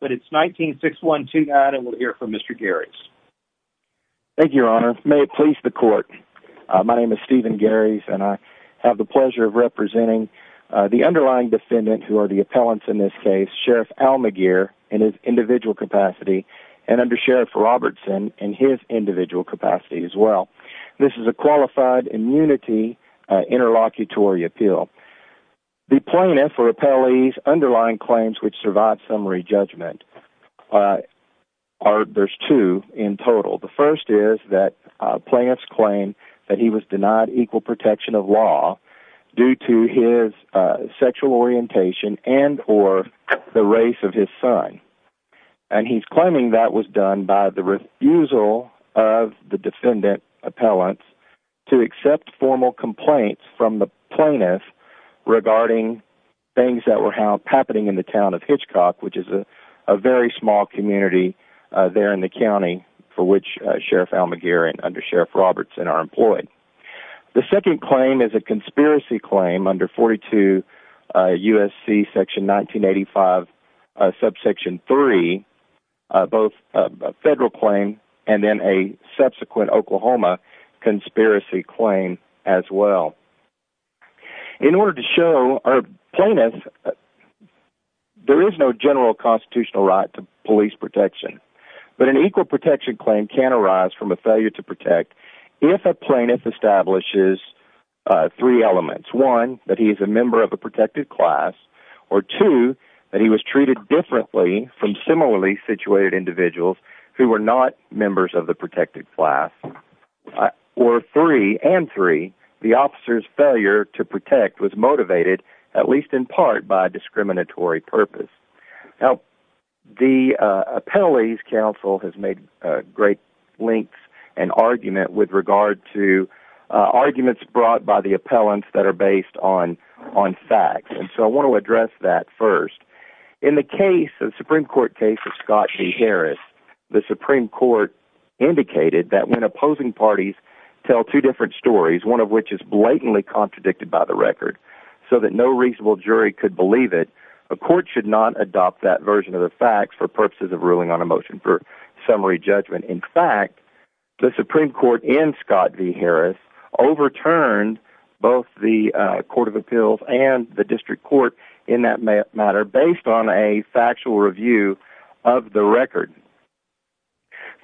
but it's 196129, and we'll hear from Mr. Gares. Thank you, Your Honor. May it please the Court. My name is Stephen Gares, and I have the pleasure of representing the underlying defendant, who are the appellants in this case, Sheriff Almaguer in his individual capacity, and Undersheriff Robertson in his individual capacity as well. This is a qualified immunity interlocutory appeal. The plaintiff or appellee's underlying claims which survive summary judgment, there's two in total. The first is that plaintiffs claim that he was denied equal protection of law due to his sexual orientation and or the race of his son. And he's claiming that was done by the refusal of the defendant appellants to accept formal complaints from the plaintiff regarding things that were happening in the town of Hitchcock, which is a very small community there in the county for which Sheriff Almaguer and Undersheriff Robertson are employed. The second claim is a conspiracy claim under 42 U.S.C. section 1985 subsection 3, both a federal claim and then a subsequent Oklahoma conspiracy claim as well. In order to show a plaintiff, there is no general constitutional right to police protection, but an equal protection claim can arise from a failure to protect if a plaintiff establishes three elements. One, that he is a member of a protected class, or two, that he was treated differently from similarly situated individuals who were not members of the protected class, or three, and three, the officer's failure to protect was motivated, at least in part, by a discriminatory purpose. Now, the Appellees Council has made great lengths and argument with regard to arguments brought by the appellants that are based on facts, and so I want to address that first. In the case, the Supreme Court case of Scott G. Harris, the Supreme Court indicated that when opposing parties tell two different stories, one of which is blatantly contradicted by the record, so that no reasonable jury could believe it, a court should not adopt that version of the facts for purposes of ruling on a motion for summary judgment. In fact, the Supreme Court in Scott G. Harris overturned both the Court of Appeals and the District Court in that matter based on a factual review of the record.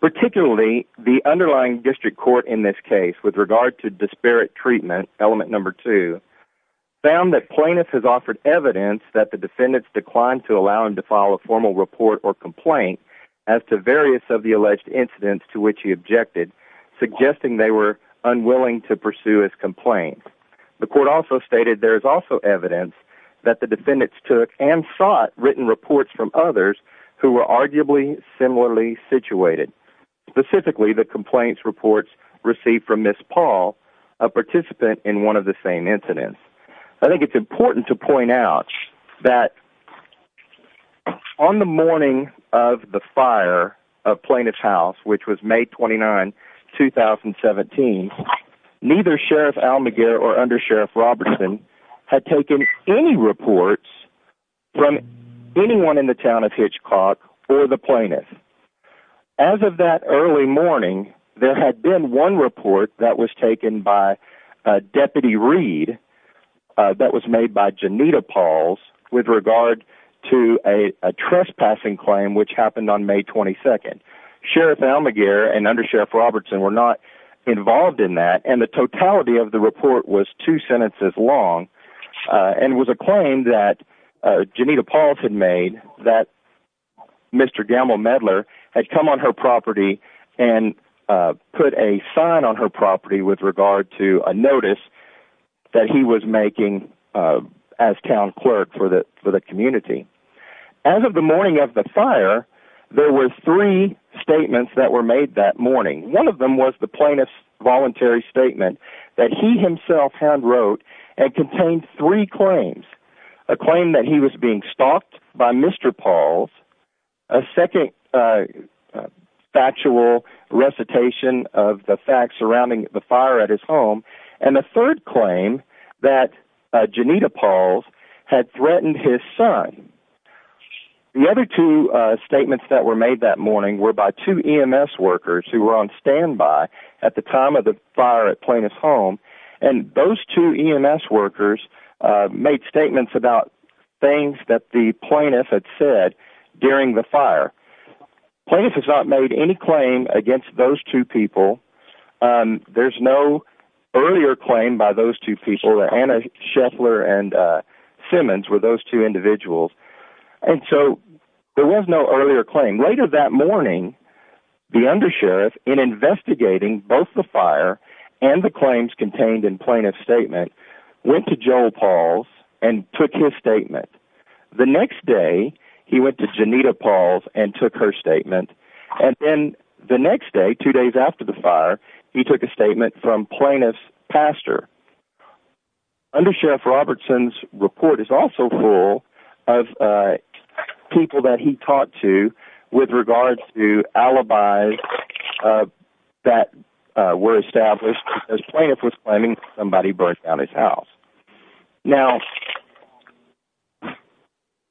Particularly, the underlying District Court in this case, with regard to disparate treatment, element number two, found that plaintiff has offered evidence that the defendants declined to allow him to file a formal report or complaint as to various of the alleged incidents to which he objected, suggesting they were unwilling to pursue his complaint. The court also stated there is also evidence that the defendants took and sought written reports from others who were arguably similarly situated. Specifically, the complaints reports received from Ms. Paul, a participant in one of the same incidents. I think it's important to point out that on the morning of the fire of Plaintiff's House, which was May 29, 2017, neither Sheriff Almaguer or Under Sheriff Robertson had taken any reports from anyone in the town of Hitchcock or the plaintiff. As of that early morning, there had been one report that was taken by Deputy Reed that was made by Janita Pauls with regard to a trespassing claim, which happened on May 22nd. Sheriff Almaguer and Under Sheriff Robertson were not involved in that, and the totality of the report was two sentences long and was a claim that Janita Pauls had made that Mr. Gamble-Medler had come on her property and put a sign on her property with regard to a notice that he was making as town clerk for the community. As of the morning of the fire, there were three statements that were made that morning. One of them was the plaintiff's voluntary statement that he himself hand-wrote and contained three claims, a claim that he was being stalked by Mr. Pauls, a second factual recitation of the facts surrounding the fire at his home, and a third claim that Janita Pauls had threatened his son. The other two statements that were made that morning were by two EMS workers who were on standby at the time of the fire at Plaintiff's home, and those two EMS workers made statements about things that the plaintiff had said during the fire. Plaintiff has not made any claim against those two people. There's no earlier claim by those two people. Anna Shetler and Simmons were those two individuals, and so there was no earlier claim. Later that morning, the undersheriff, in investigating both the fire and the claims contained in plaintiff's statement, went to Joel Pauls and took his statement. The next day, he went to Janita Pauls and took her statement, and then the next day, two days after the fire, he took a statement from plaintiff's pastor. Undersheriff Robertson's report is also full of people that he talked to with regards to alibis that were established as plaintiff was claiming somebody burned down his house. Now,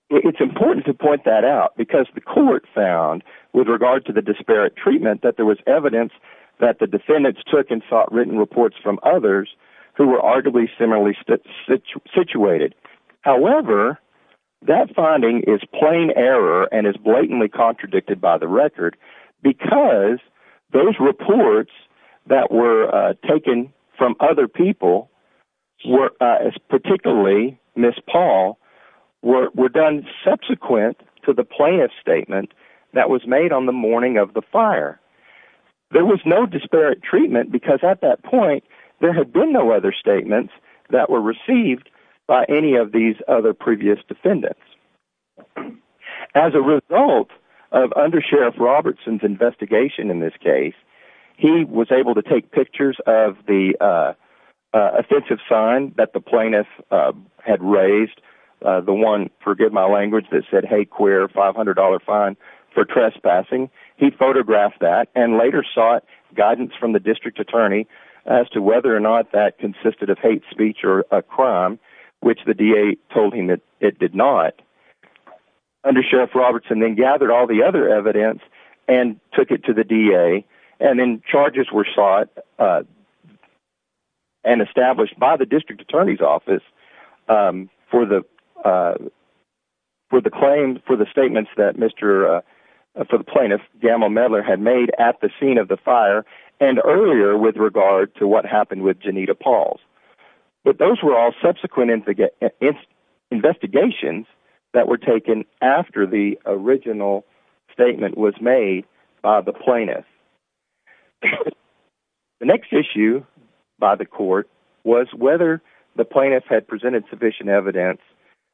it's important to point that out because the court found, with regard to the disparate treatment, that there was evidence that the defendants took and sought written reports from others who were arguably similarly situated. However, that finding is plain error and is blatantly contradicted by the record because those reports that were taken from other people, particularly Ms. Paul, were done subsequent to the plaintiff's statement that was made on the morning of the fire. There was no disparate treatment because, at that point, there had been no other statements that were received by any of these other previous defendants. As a result of Undersheriff Robertson's investigation in this case, he was able to take pictures of the offensive sign that the plaintiff had raised, the one, forgive my language, that said, hey, queer, $500 fine for trespassing. He photographed that and later sought guidance from the district attorney as to whether or not that consisted of hate speech or a crime, which the DA told him that it did not. Undersheriff Robertson then gathered all the other evidence and took it to the DA, and then charges were sought and established by the district attorney's office for the claim, for the statements that Mr. for the plaintiff, Gamal Medler, had made at the scene of the fire and earlier with regard to what happened with Janita Pauls. But those were all subsequent investigations that were taken after the original statement was made by the plaintiff. The next issue by the court was whether the plaintiff had presented sufficient evidence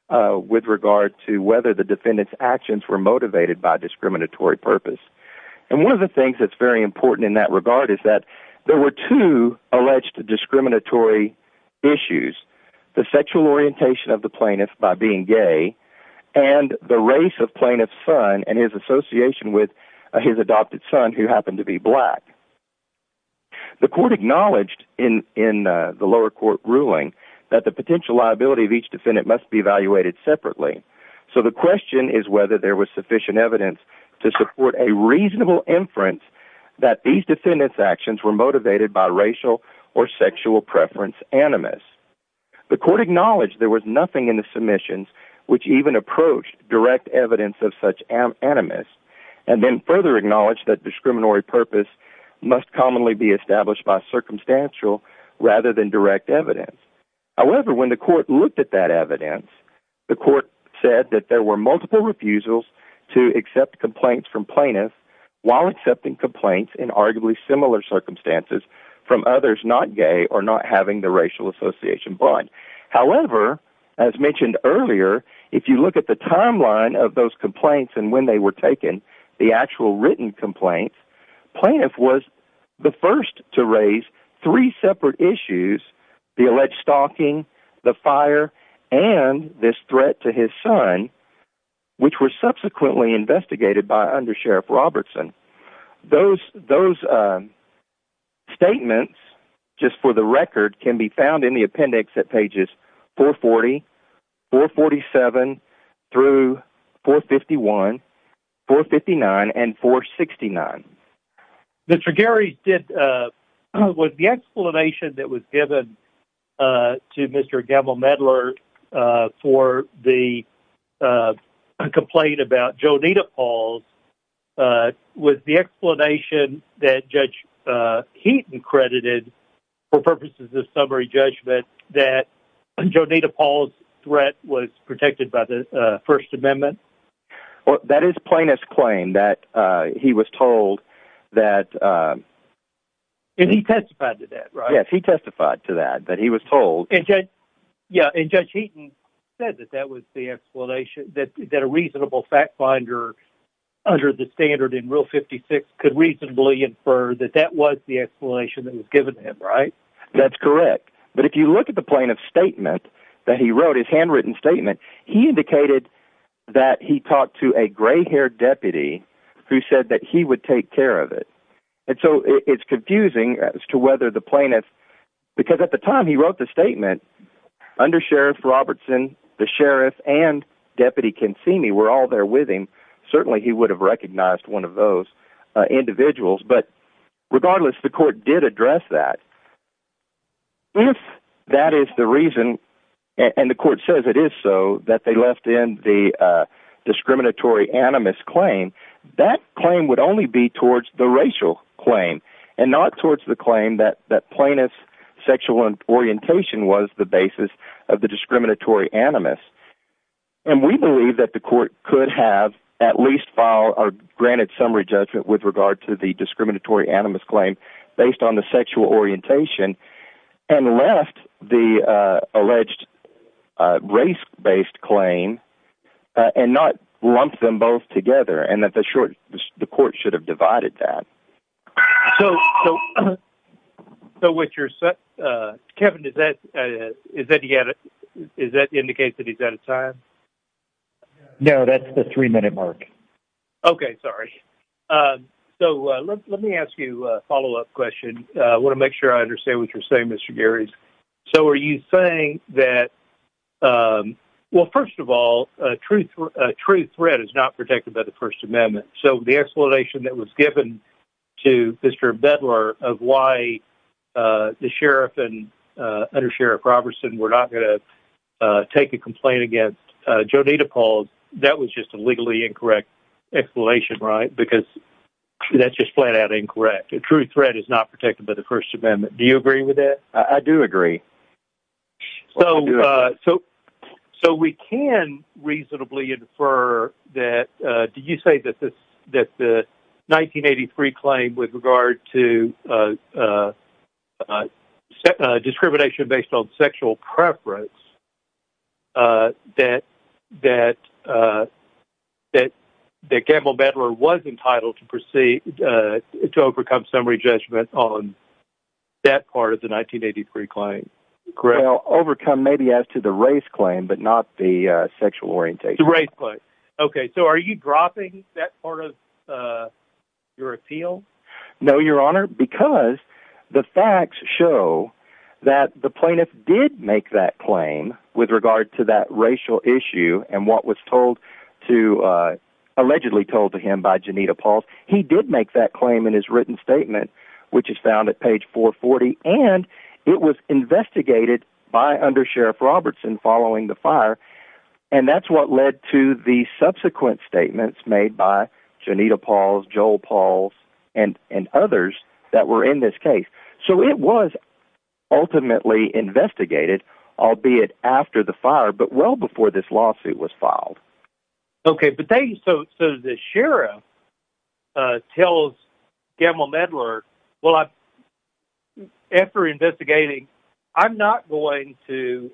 with regard to whether the defendant's actions were motivated by discriminatory purpose. And one of the things that's very important in that regard is that there were two alleged discriminatory issues, the sexual orientation of the plaintiff by being gay and the race of plaintiff's son and his association with his adopted son, who happened to be black. The court acknowledged in the lower court ruling that the potential liability of each defendant must be evaluated separately. So the question is whether there was sufficient evidence to support a reasonable inference that these defendants' actions were motivated by racial or sexual preference animus. The court acknowledged there was nothing in the submissions which even approached direct evidence of such animus and then further acknowledged that discriminatory purpose must commonly be established by circumstantial rather than direct evidence. However, when the court looked at that evidence, the court said that there were multiple refusals to accept complaints from plaintiffs while accepting complaints in arguably similar circumstances from others not gay or not having the racial association bond. However, as mentioned earlier, if you look at the timeline of those complaints and when they were taken, the actual written complaints, plaintiff was the first to raise three separate issues, the alleged stalking, the fire, and this threat to his son, which were subsequently investigated by under Sheriff Robertson. Those statements, just for the record, can be found in the appendix at pages 440, 447, through 451, 459, and 469. Mr. Gary, with the explanation that was given to Mr. Gamble-Medler for the complaint about Joneeta Paul's, was the explanation that Judge Keeton credited for purposes of summary judgment that Joneeta Paul's threat was protected by the First Amendment? Well, that is plaintiff's claim that he was told that... And he testified to that, right? Yes, he testified to that, that he was told... And Judge Keeton said that that was the explanation, that a reasonable fact finder under the standard in Rule 56 could reasonably infer that that was the explanation that was given to him, right? That's correct. But if you look at the plaintiff's statement that he wrote, his handwritten statement, he indicated that he talked to a gray-haired deputy who said that he would take care of it. And so, it's confusing as to whether the plaintiff... Because at the time he wrote the statement, under Sheriff Robertson, the sheriff and Deputy Consimi were all there with him. Certainly, he would have recognized one of those individuals. But regardless, the court did address that. If that is the reason, and the court says it is so, that they left in the discriminatory animus claim, that claim would only be towards the racial claim, and not towards the claim that plaintiff's sexual orientation was the basis of the discriminatory animus. And we believe that the court could have at least filed or granted summary judgment with regard to the discriminatory animus claim based on the sexual orientation, and left the alleged race-based claim, and not lumped them both together, and that the court should have divided that. So, with your... Kevin, is that... Is that indicate that he's out of time? No, that's the three-minute mark. Okay, sorry. So, let me ask you a follow-up question. I want to make sure I understand what you're saying, Mr. Gary. So, are you saying that... Well, first of all, a true threat is not protected by the First Amendment. So, the explanation that was given to Mr. Bedlar of why the sheriff and under-sheriff Robertson were not going to take a complaint against Jodita Paul, that was just a legally incorrect explanation, right? Because that's just flat-out incorrect. A true threat is not protected by the First Amendment. Do you agree with that? I do agree. So, we can reasonably infer that... Did you say that the 1983 claim with regard to discrimination based on sexual preference, that Gamble Bedlar was entitled to proceed... to overcome summary judgment based on sexual preference on that part of the 1983 claim? Well, overcome maybe as to the race claim, but not the sexual orientation. The race claim. Okay, so are you dropping that part of your appeal? No, Your Honor, because the facts show that the plaintiff did make that claim with regard to that racial issue and what was told to... allegedly told to him by Jodita Paul. He did make that claim in his written statement, which is found at page 440, and it was investigated by Under Sheriff Robertson following the fire, and that's what led to the subsequent statements made by Jodita Paul, Joel Paul, and others that were in this case. So, it was ultimately investigated, albeit after the fire, but well before this lawsuit was filed. Okay, but so the sheriff tells Gamble Bedlar that, well, after investigating, I'm not going to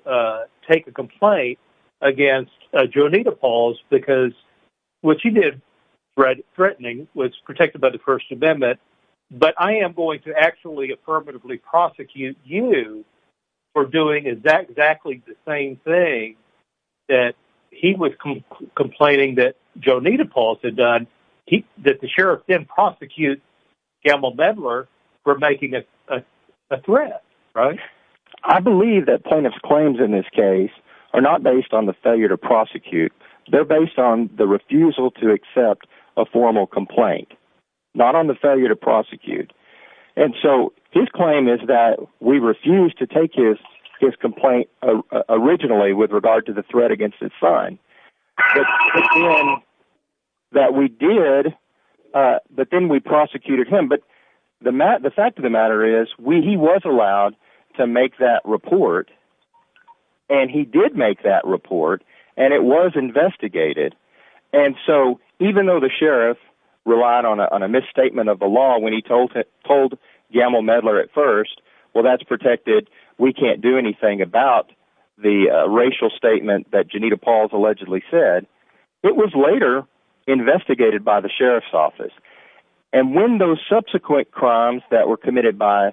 take a complaint against Jodita Paul because what she did, threatening, was protected by the First Amendment, but I am going to actually affirmatively prosecute you for doing exactly the same thing that he was complaining that Jodita Paul had done, that the sheriff didn't prosecute Gamble Bedlar for making a threat, right? I believe that plaintiff's claims in this case are not based on the failure to prosecute. They're based on the refusal to accept a formal complaint, not on the failure to prosecute, and so his claim is that we refused to take his complaint originally with regard to the threat against his son, but then we did, but then we prosecuted him, but the fact of the matter is, he was allowed to make that report, and he did make that report, and it was investigated, and so even though the sheriff relied on a misstatement of the law when he told Gamble Bedlar at first, well, that's protected. We can't do anything about the racial statement that Jodita Paul allegedly said. It was later investigated by the sheriff's office, and when those subsequent crimes that were committed by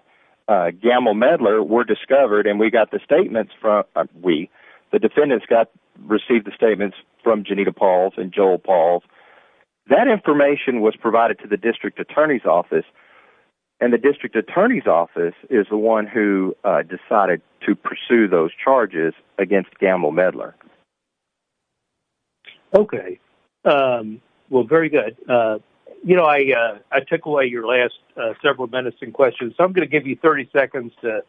Gamble Bedlar were discovered, and we got the statements from, we, the defendants got, received the statements from Jodita Paul and Joel Paul, that information was provided to the district attorney's office, and the district attorney's office is the one who decided to pursue those charges against Gamble Bedlar. Okay. Well, very good. You know, I took away your last several minutes in questions, so I'm going to give you 30 seconds to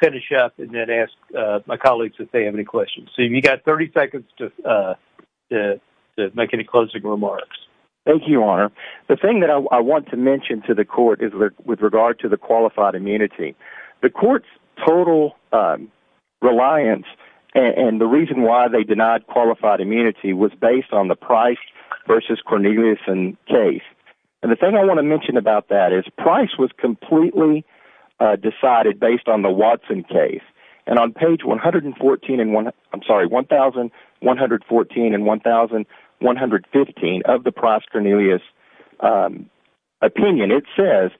finish up and then ask my colleagues if they have any questions. So you've got 30 seconds to make any closing remarks. Thank you, Your Honor. The thing that I want to mention to the court is with regard to the qualified immunity. The court's total reliance and the reason why they denied qualified immunity was based on the Price v. Cornelius case, and the thing I want to mention about that is Price was completely decided based on the Watson case, and on page 114, I'm sorry, 1114 and 1115 of the Price-Cornelius opinion, and it says,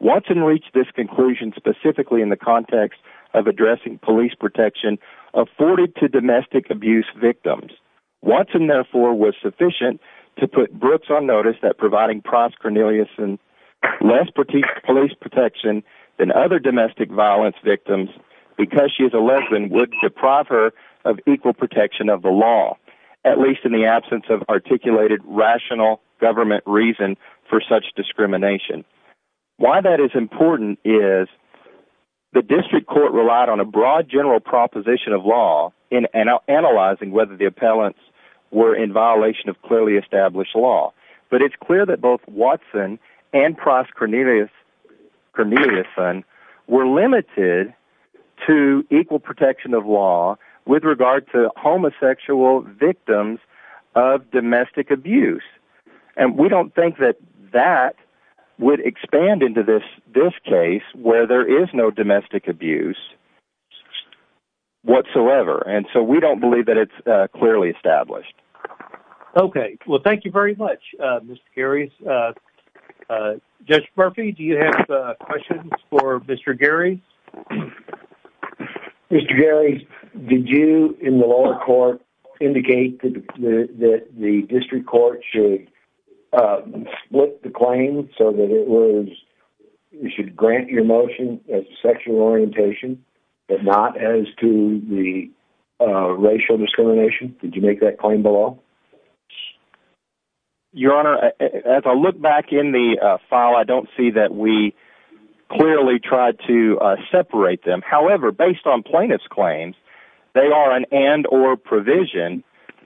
Watson reached this conclusion specifically in the context of addressing police protection afforded to domestic abuse victims. Watson, therefore, was sufficient to put Brooks on notice that providing Price-Cornelius and less police protection than other domestic violence victims because she is a lesbian would deprive her of equal protection of the law, at least in the absence of articulated rational government reason for such discrimination. Why that is important is the district court relied on a broad general proposition of law in analyzing whether the appellants were in violation of clearly established law, but it's clear that both Watson and Price-Cornelius were limited to equal protection of law with regard to homosexual victims of domestic abuse, and we don't think that that would expand into this case where there is no domestic abuse whatsoever, and so we don't believe that it's clearly established. Okay, well, thank you very much, Mr. Gary. Judge Murphy, do you have questions for Mr. Gary? Mr. Gary, did you, in the lower court, indicate that the district court should split the claim so that it was... you should grant your motion as sexual orientation, but not as to the racial discrimination? Did you make that claim below? Your Honor, as I look back in the file, I don't see that we clearly tried to separate them. However, based on plaintiff's claims, they are an and-or provision.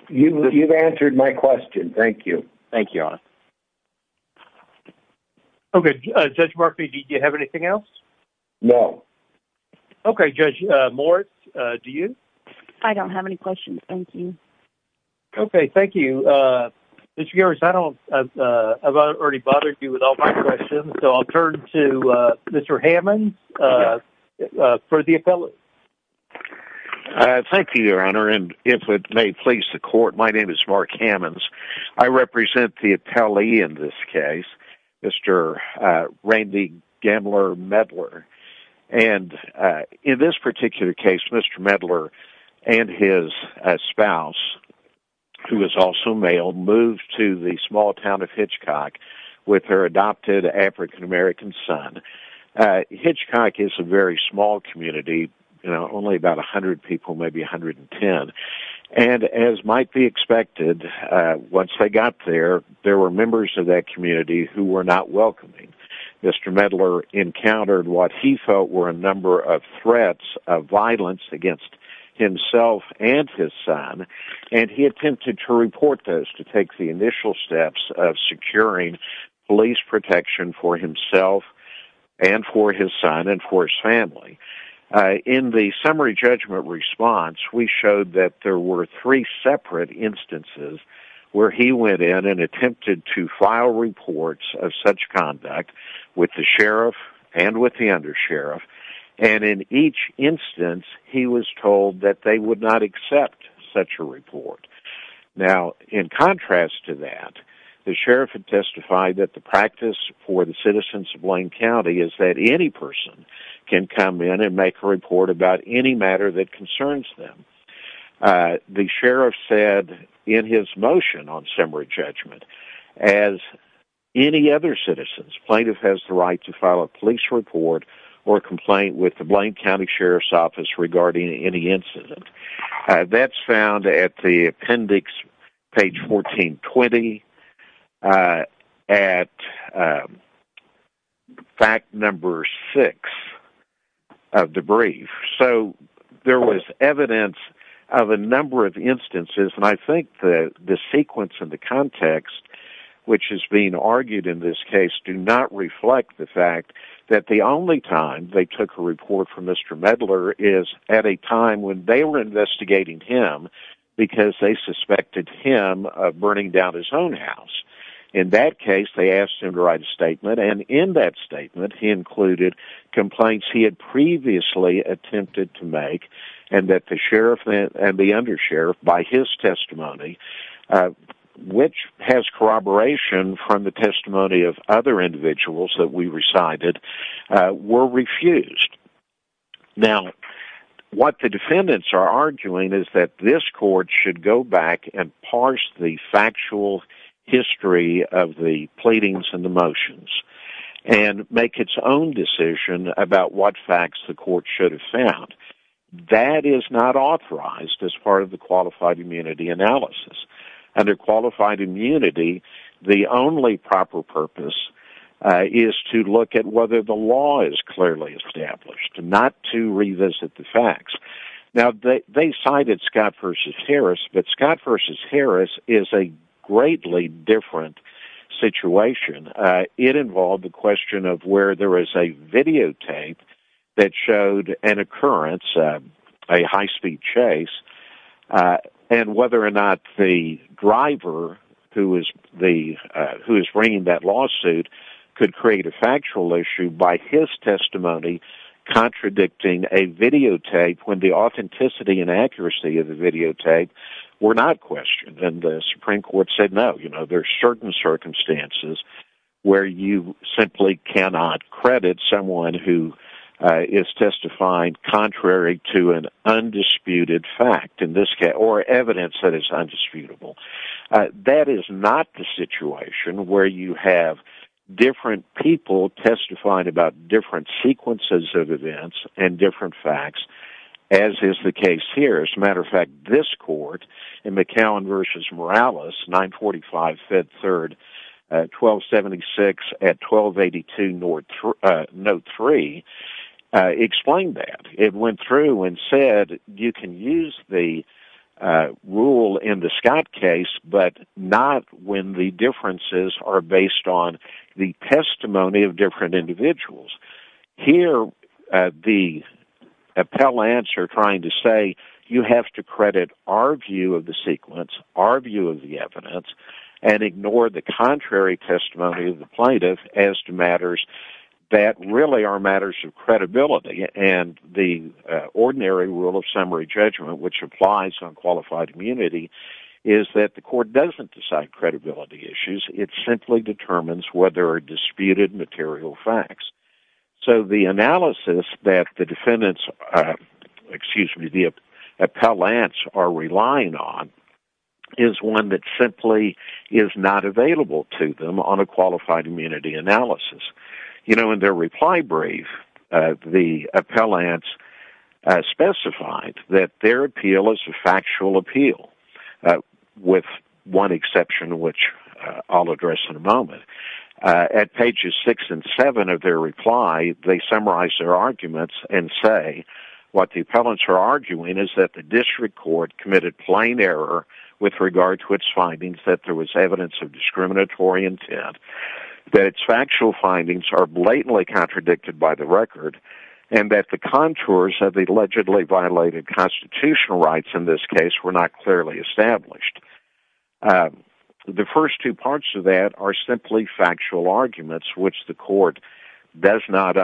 You've answered my question, thank you. Thank you, Your Honor. Okay, Judge Murphy, do you have anything else? No. Okay, Judge Moritz, do you? I don't have any questions, thank you. Okay, thank you. Mr. Gary, I don't... I've already bothered you with all my questions, so I'll turn to Mr. Hammonds for the appellate. Thank you, Your Honor, and if it may please the court, my name is Mark Hammonds. I represent the appellee in this case, Mr. Randy Gambler-Medler. And in this particular case, Mr. Medler and his spouse, who is also male, moved to the small town of Hitchcock with their adopted African-American son. Hitchcock is a very small community, you know, only about 100 people, maybe 110. And as might be expected, once they got there, there were members of that community who were not welcoming. Mr. Medler encountered what he felt were a number of threats of violence against himself and his son, and he attempted to report those to take the initial steps of securing police protection for himself and for his son and for his family. In the summary judgment response, we showed that there were three separate instances where he went in and attempted to file reports of such conduct with the sheriff and with the undersheriff. And in each instance, he was told that they would not accept such a report. Now, in contrast to that, the sheriff had testified that the practice for the citizens of Blaine County is that any person can come in and make a report about any matter that concerns them. The sheriff said in his motion on summary judgment, as any other citizen's plaintiff has the right to file a police report or complaint with the Blaine County Sheriff's Office regarding any incident. That's found at the appendix, page 1420, at fact number six of the brief. So there was evidence of a number of instances, and I think the sequence and the context which is being argued in this case do not reflect the fact that the only time they took a report from Mr. Medler is at a time when they were investigating him because they suspected him of burning down his own house. In that case, they asked him to write a statement, and in that statement, he included complaints he had previously attempted to make and that the sheriff and the undersheriff, by his testimony, which has corroboration from the testimony of other individuals that we recited, were refused. Now, what the defendants are arguing is that this court should go back and parse the factual history of the pleadings and the motions and make its own decision about what facts the court should have found. That is not authorized as part of the qualified immunity analysis. Under qualified immunity, the only proper purpose is to look at whether the law is clearly established, not to revisit the facts. Now, they cited Scott v. Harris, but Scott v. Harris is a greatly different situation. It involved the question of where there is a videotape that showed an occurrence, a high-speed chase, and whether or not the driver who is bringing that lawsuit could create a factual issue by his testimony contradicting a videotape when the authenticity and accuracy of the videotape were not questioned. And the Supreme Court said, no, there are certain circumstances where you simply cannot credit someone who is testifying contrary to an undisputed fact, or evidence that is undisputable. That is not the situation where you have different people testifying about different sequences of events and different facts, as is the case here. As a matter of fact, this court in McCallum v. Morales, 945 Fed 3rd, 1276 at 1282 Note 3, explained that. It went through and said, you can use the rule in the Scott case, but not when the differences are based on the testimony of different individuals. Here, the appellants are trying to say, you have to credit our view of the sequence, our view of the evidence, and ignore the contrary testimony of the plaintiff as to matters that really are matters of credibility. And the ordinary rule of summary judgment, which applies on qualified immunity, is that the court doesn't decide credibility issues. It simply determines whether a disputed material facts. So the analysis that the defendants, excuse me, the appellants are relying on, is one that simply is not available to them on a qualified immunity analysis. You know, in their reply brief, the appellants specified that their appeal is a factual appeal, with one exception which I'll address in a moment. At pages 6 and 7 of their reply, they summarize their arguments and say, what the appellants are arguing is that the district court committed plain error with regard to its findings, that there was evidence of discriminatory intent. That its factual findings are blatantly contradicted by the record, and that the contours of the allegedly violated constitutional rights in this case were not clearly established. The first two parts of that are simply factual arguments, which the court does not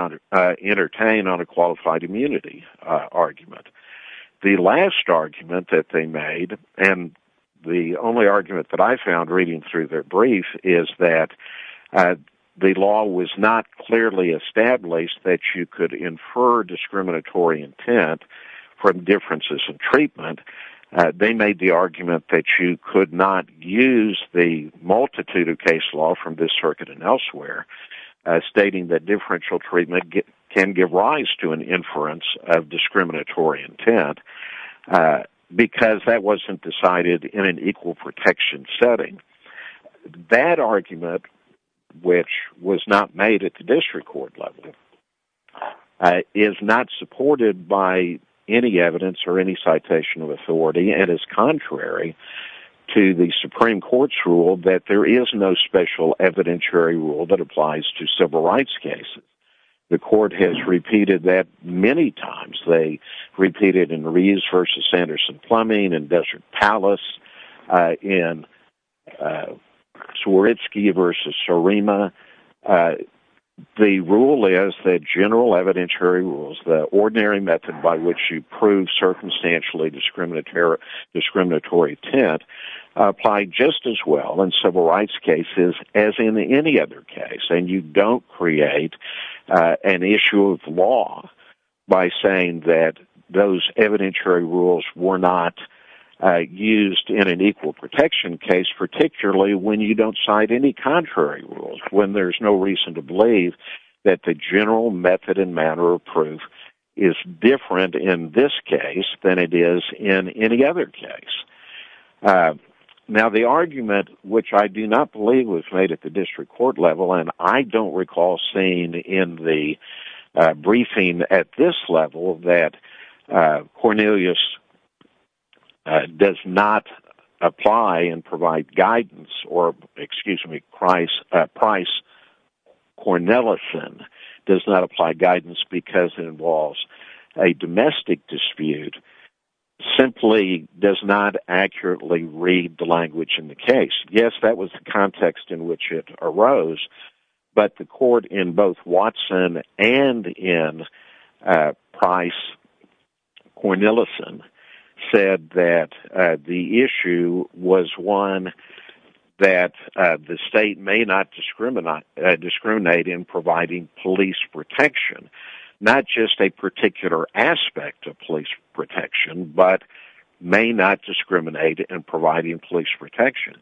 entertain on a qualified immunity argument. The last argument that they made, and the only argument that I found reading through their brief, is that the law was not clearly established that you could infer discriminatory intent from differences in treatment. They made the argument that you could not use the multitude of case law from this circuit and elsewhere, stating that differential treatment can give rise to an inference of discriminatory intent, because that wasn't decided in an equal protection setting. That argument, which was not made at the district court level, is not supported by any evidence or any citation of authority, and is contrary to the Supreme Court's rule that there is no special evidentiary rule that applies to civil rights cases. The court has repeated that many times. They repeated it in Rees v. Sanderson-Plumbing and Desert Palace, in Swierdzki v. Surima. The rule is that general evidentiary rules, the ordinary method by which you prove circumstantially discriminatory intent, apply just as well in civil rights cases as in any other case. And you don't create an issue of law by saying that those evidentiary rules were not used in an equal protection case, particularly when you don't cite any contrary rules, when there's no reason to believe that the general method and manner of proof is different in this case than it is in any other case. Now, the argument, which I do not believe was made at the district court level, and I don't recall seeing in the briefing at this level that Cornelius does not apply and provide guidance, or, excuse me, Price Cornelison does not apply guidance because it involves a domestic dispute, simply does not accurately read the language in the case. Yes, that was the context in which it arose, but the court in both Watson and in Price Cornelison said that the issue was one that the state may not discriminate in providing police protection, not just a particular aspect of police protection, but may not discriminate in providing police protection.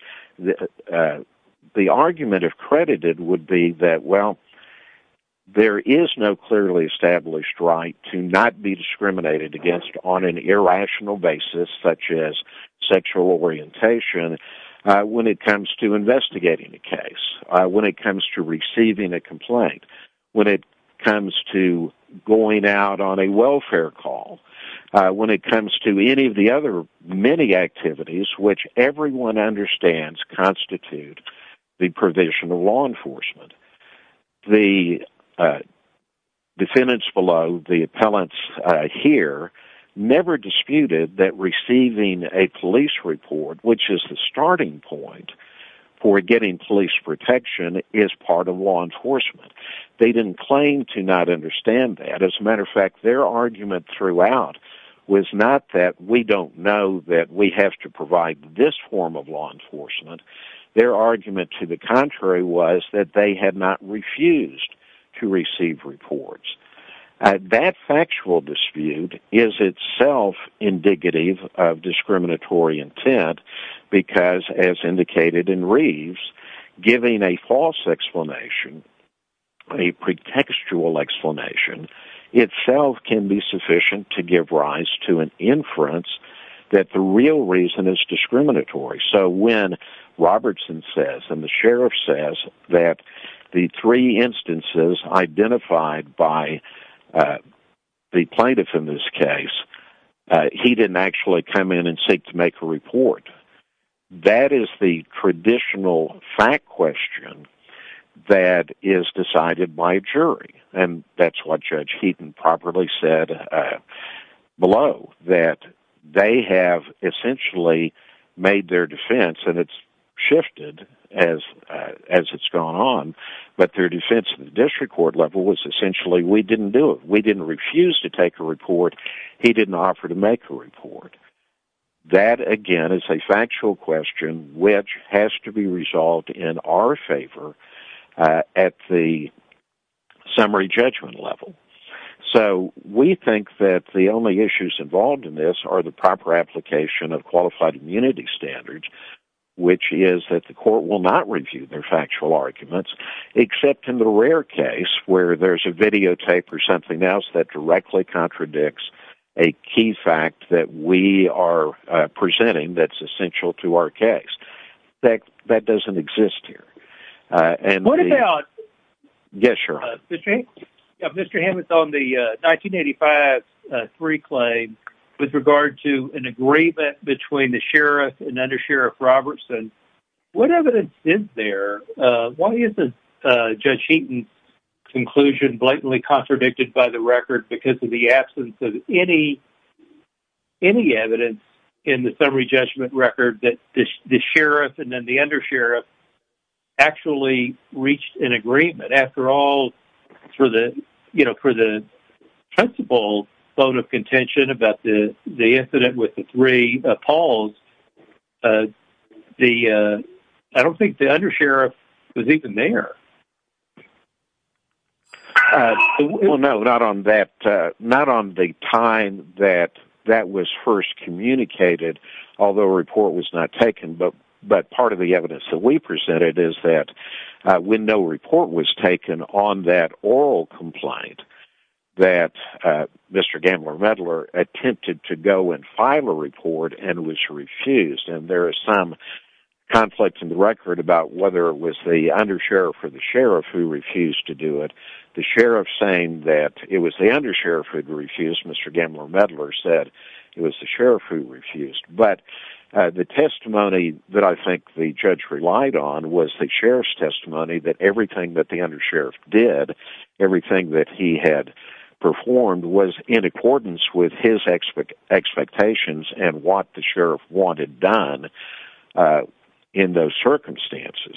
The argument, if credited, would be that, well, there is no clearly established right to not be discriminated against on an irrational basis, such as sexual orientation, when it comes to investigating a case, when it comes to receiving a complaint, when it comes to going out on a welfare call, when it comes to any of the other many activities which everyone understands constitute the provision of law enforcement. The defendants below, the appellants here, never disputed that receiving a police report, which is the starting point for getting police protection, is part of law enforcement. They didn't claim to not understand that. As a matter of fact, their argument throughout was not that we don't know that we have to provide this form of law enforcement. Their argument, to the contrary, was that they had not refused to receive reports. That factual dispute is itself indicative of discriminatory intent because, as indicated in Reeves, giving a false explanation, a pretextual explanation, itself can be sufficient to give rise to an inference that the real reason is discriminatory. So when Robertson says, and the sheriff says, that the three instances identified by the plaintiff in this case, he didn't actually come in and seek to make a report, that is the traditional fact question that is decided by a jury, and that's what Judge Heaton properly said below, that they have essentially made their defense, and it's shifted as it's gone on, but their defense at the district court level was essentially, we didn't do it. We didn't refuse to take a report. He didn't offer to make a report. That, again, is a factual question, which has to be resolved in our favor at the summary judgment level. So we think that the only issues involved in this are the proper application of qualified immunity standards, which is that the court will not review their factual arguments, except in the rare case where there's a videotape or something else that directly contradicts a key fact that we are presenting that's essential to our case. That doesn't exist here. What about... Yes, sir. Mr. Hammond, on the 1985-3 claim, with regard to an agreement between the sheriff and under Sheriff Robertson, what evidence is there? Why isn't Judge Heaton's conclusion blatantly contradicted by the record because of the absence of any evidence in the summary judgment record that the sheriff and then the undersheriff actually reached an agreement? After all, for the principal vote of contention about the incident with the three Pauls, I don't think the undersheriff was even there. Well, no, not on the time that that was first communicated, although a report was not taken, but part of the evidence that we presented is that when no report was taken on that oral complaint, that Mr. Gambler-Medler attempted to go and file a report and was refused, and there is some conflict in the record about whether it was the undersheriff or the sheriff who refused to do it. The sheriff saying that it was the undersheriff who had refused, Mr. Gambler-Medler said it was the sheriff who refused. But the testimony that I think the judge relied on was the sheriff's testimony that everything that the undersheriff did, everything that he had performed was in accordance with his expectations and what the sheriff wanted done in those circumstances.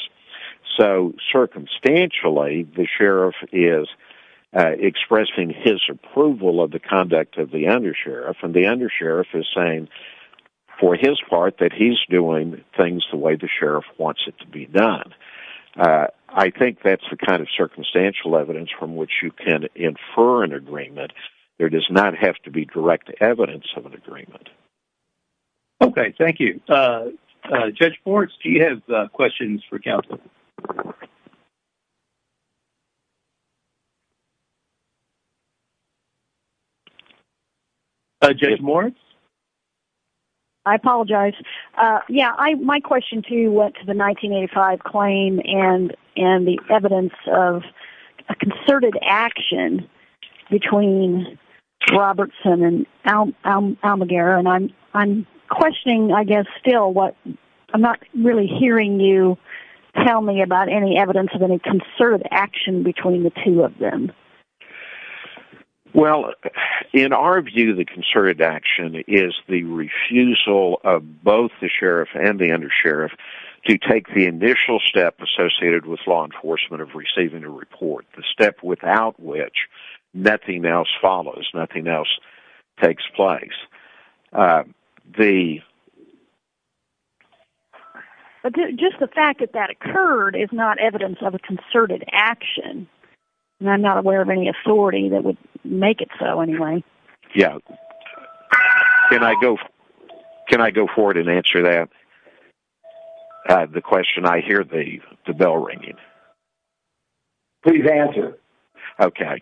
So, circumstantially, the sheriff is expressing his approval of the conduct of the undersheriff, and the undersheriff is saying, for his part, that he's doing things the way the sheriff wants it to be done. I think that's the kind of circumstantial evidence from which you can infer an agreement. There does not have to be direct evidence of an agreement. Okay, thank you. Judge Borch, do you have questions for counsel? Judge Moritz? I apologize. Yeah, my question, too, went to the 1985 claim and the evidence of a concerted action between Robertson and Almaguer. And I'm questioning, I guess, still what... to the question of whether or not you can tell me about any evidence of any concerted action between the two of them. Well, in our view, the concerted action is the refusal of both the sheriff and the undersheriff to take the initial step associated with law enforcement of receiving a report, the step without which nothing else follows, nothing else takes place. The... But just the fact that that occurred is not evidence of a concerted action. And I'm not aware of any authority that would make it so, anyway. Yeah. Can I go forward and answer that? The question, I hear the bell ringing. Please answer. Okay.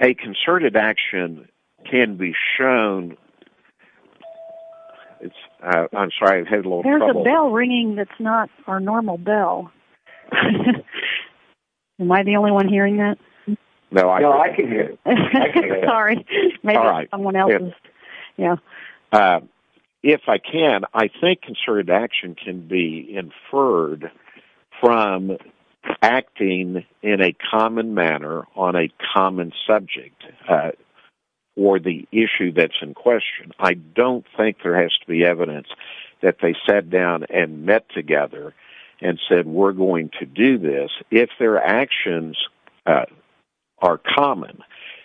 A concerted action can be shown... I'm sorry, I've had a little trouble. There's a bell ringing that's not our normal bell. Am I the only one hearing that? No, I can hear it. Sorry. Maybe someone else is, yeah. If I can, I think concerted action can be inferred from acting in a common manner on a common subject or the issue that's in question. I don't think there has to be evidence that they sat down and met together and said, we're going to do this. If their actions are common,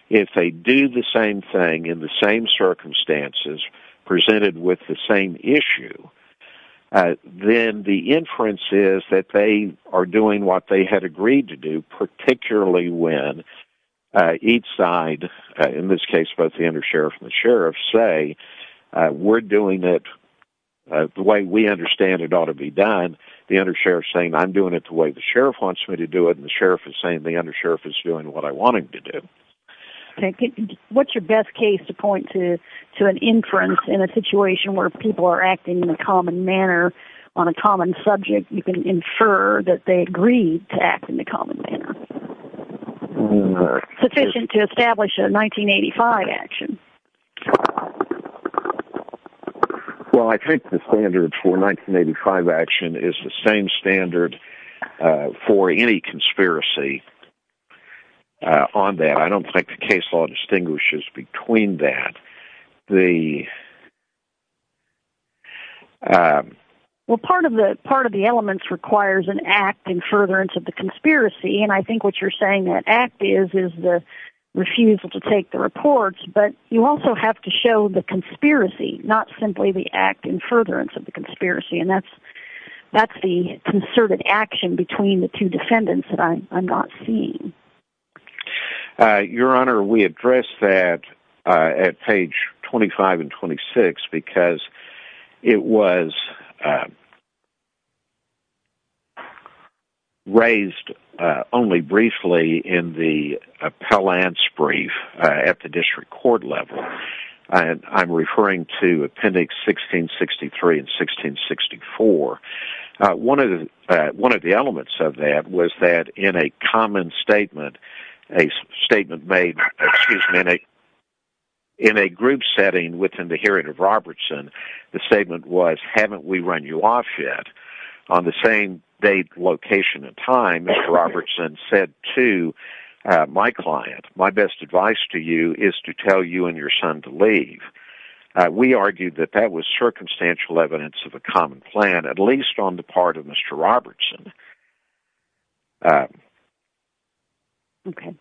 if they do the same thing in the same circumstances presented with the same issue, then the inference is that they are doing what they had agreed to do, particularly when each side, in this case, both the undersheriff and the sheriff, say, we're doing it the way we understand it ought to be done. The undersheriff's saying, I'm doing it the way the sheriff wants me to do it, and the sheriff is saying the undersheriff is doing what I want him to do. What's your best case to point to an inference in a situation where people are acting in a common manner on a common subject, you can infer that they agreed to act in a common manner. Sufficient to establish a 1985 action. Well, I think the standard for a 1985 action is the same standard for any conspiracy on that. I don't think the case law distinguishes between that. The... Well, part of the elements requires an act in furtherance of the conspiracy, and I think what you're saying that act is is the refusal to take the reports, but you also have to show the conspiracy, not simply the act in furtherance of the conspiracy, and that's the concerted action between the two defendants that I'm not seeing. Your Honor, we address that at page 25 and 26 because it was raised only briefly in the appellant's brief at the district court level. I'm referring to appendix 1663 and 1664. One of the elements of that was that in a common statement a statement made in a group setting within the hearing of Robertson, the statement was, haven't we run you off yet? On the same date, location, and time, Mr. Robertson said to my client, my best advice to you is to tell you and your son to leave. We argued that that was circumstantial evidence of a common plan, at least on the part of Mr. Robertson. Okay.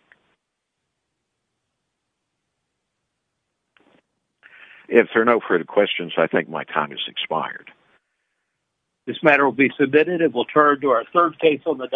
If there are no further questions, I think my time has expired. This matter will be submitted. It will turn to our third case on the...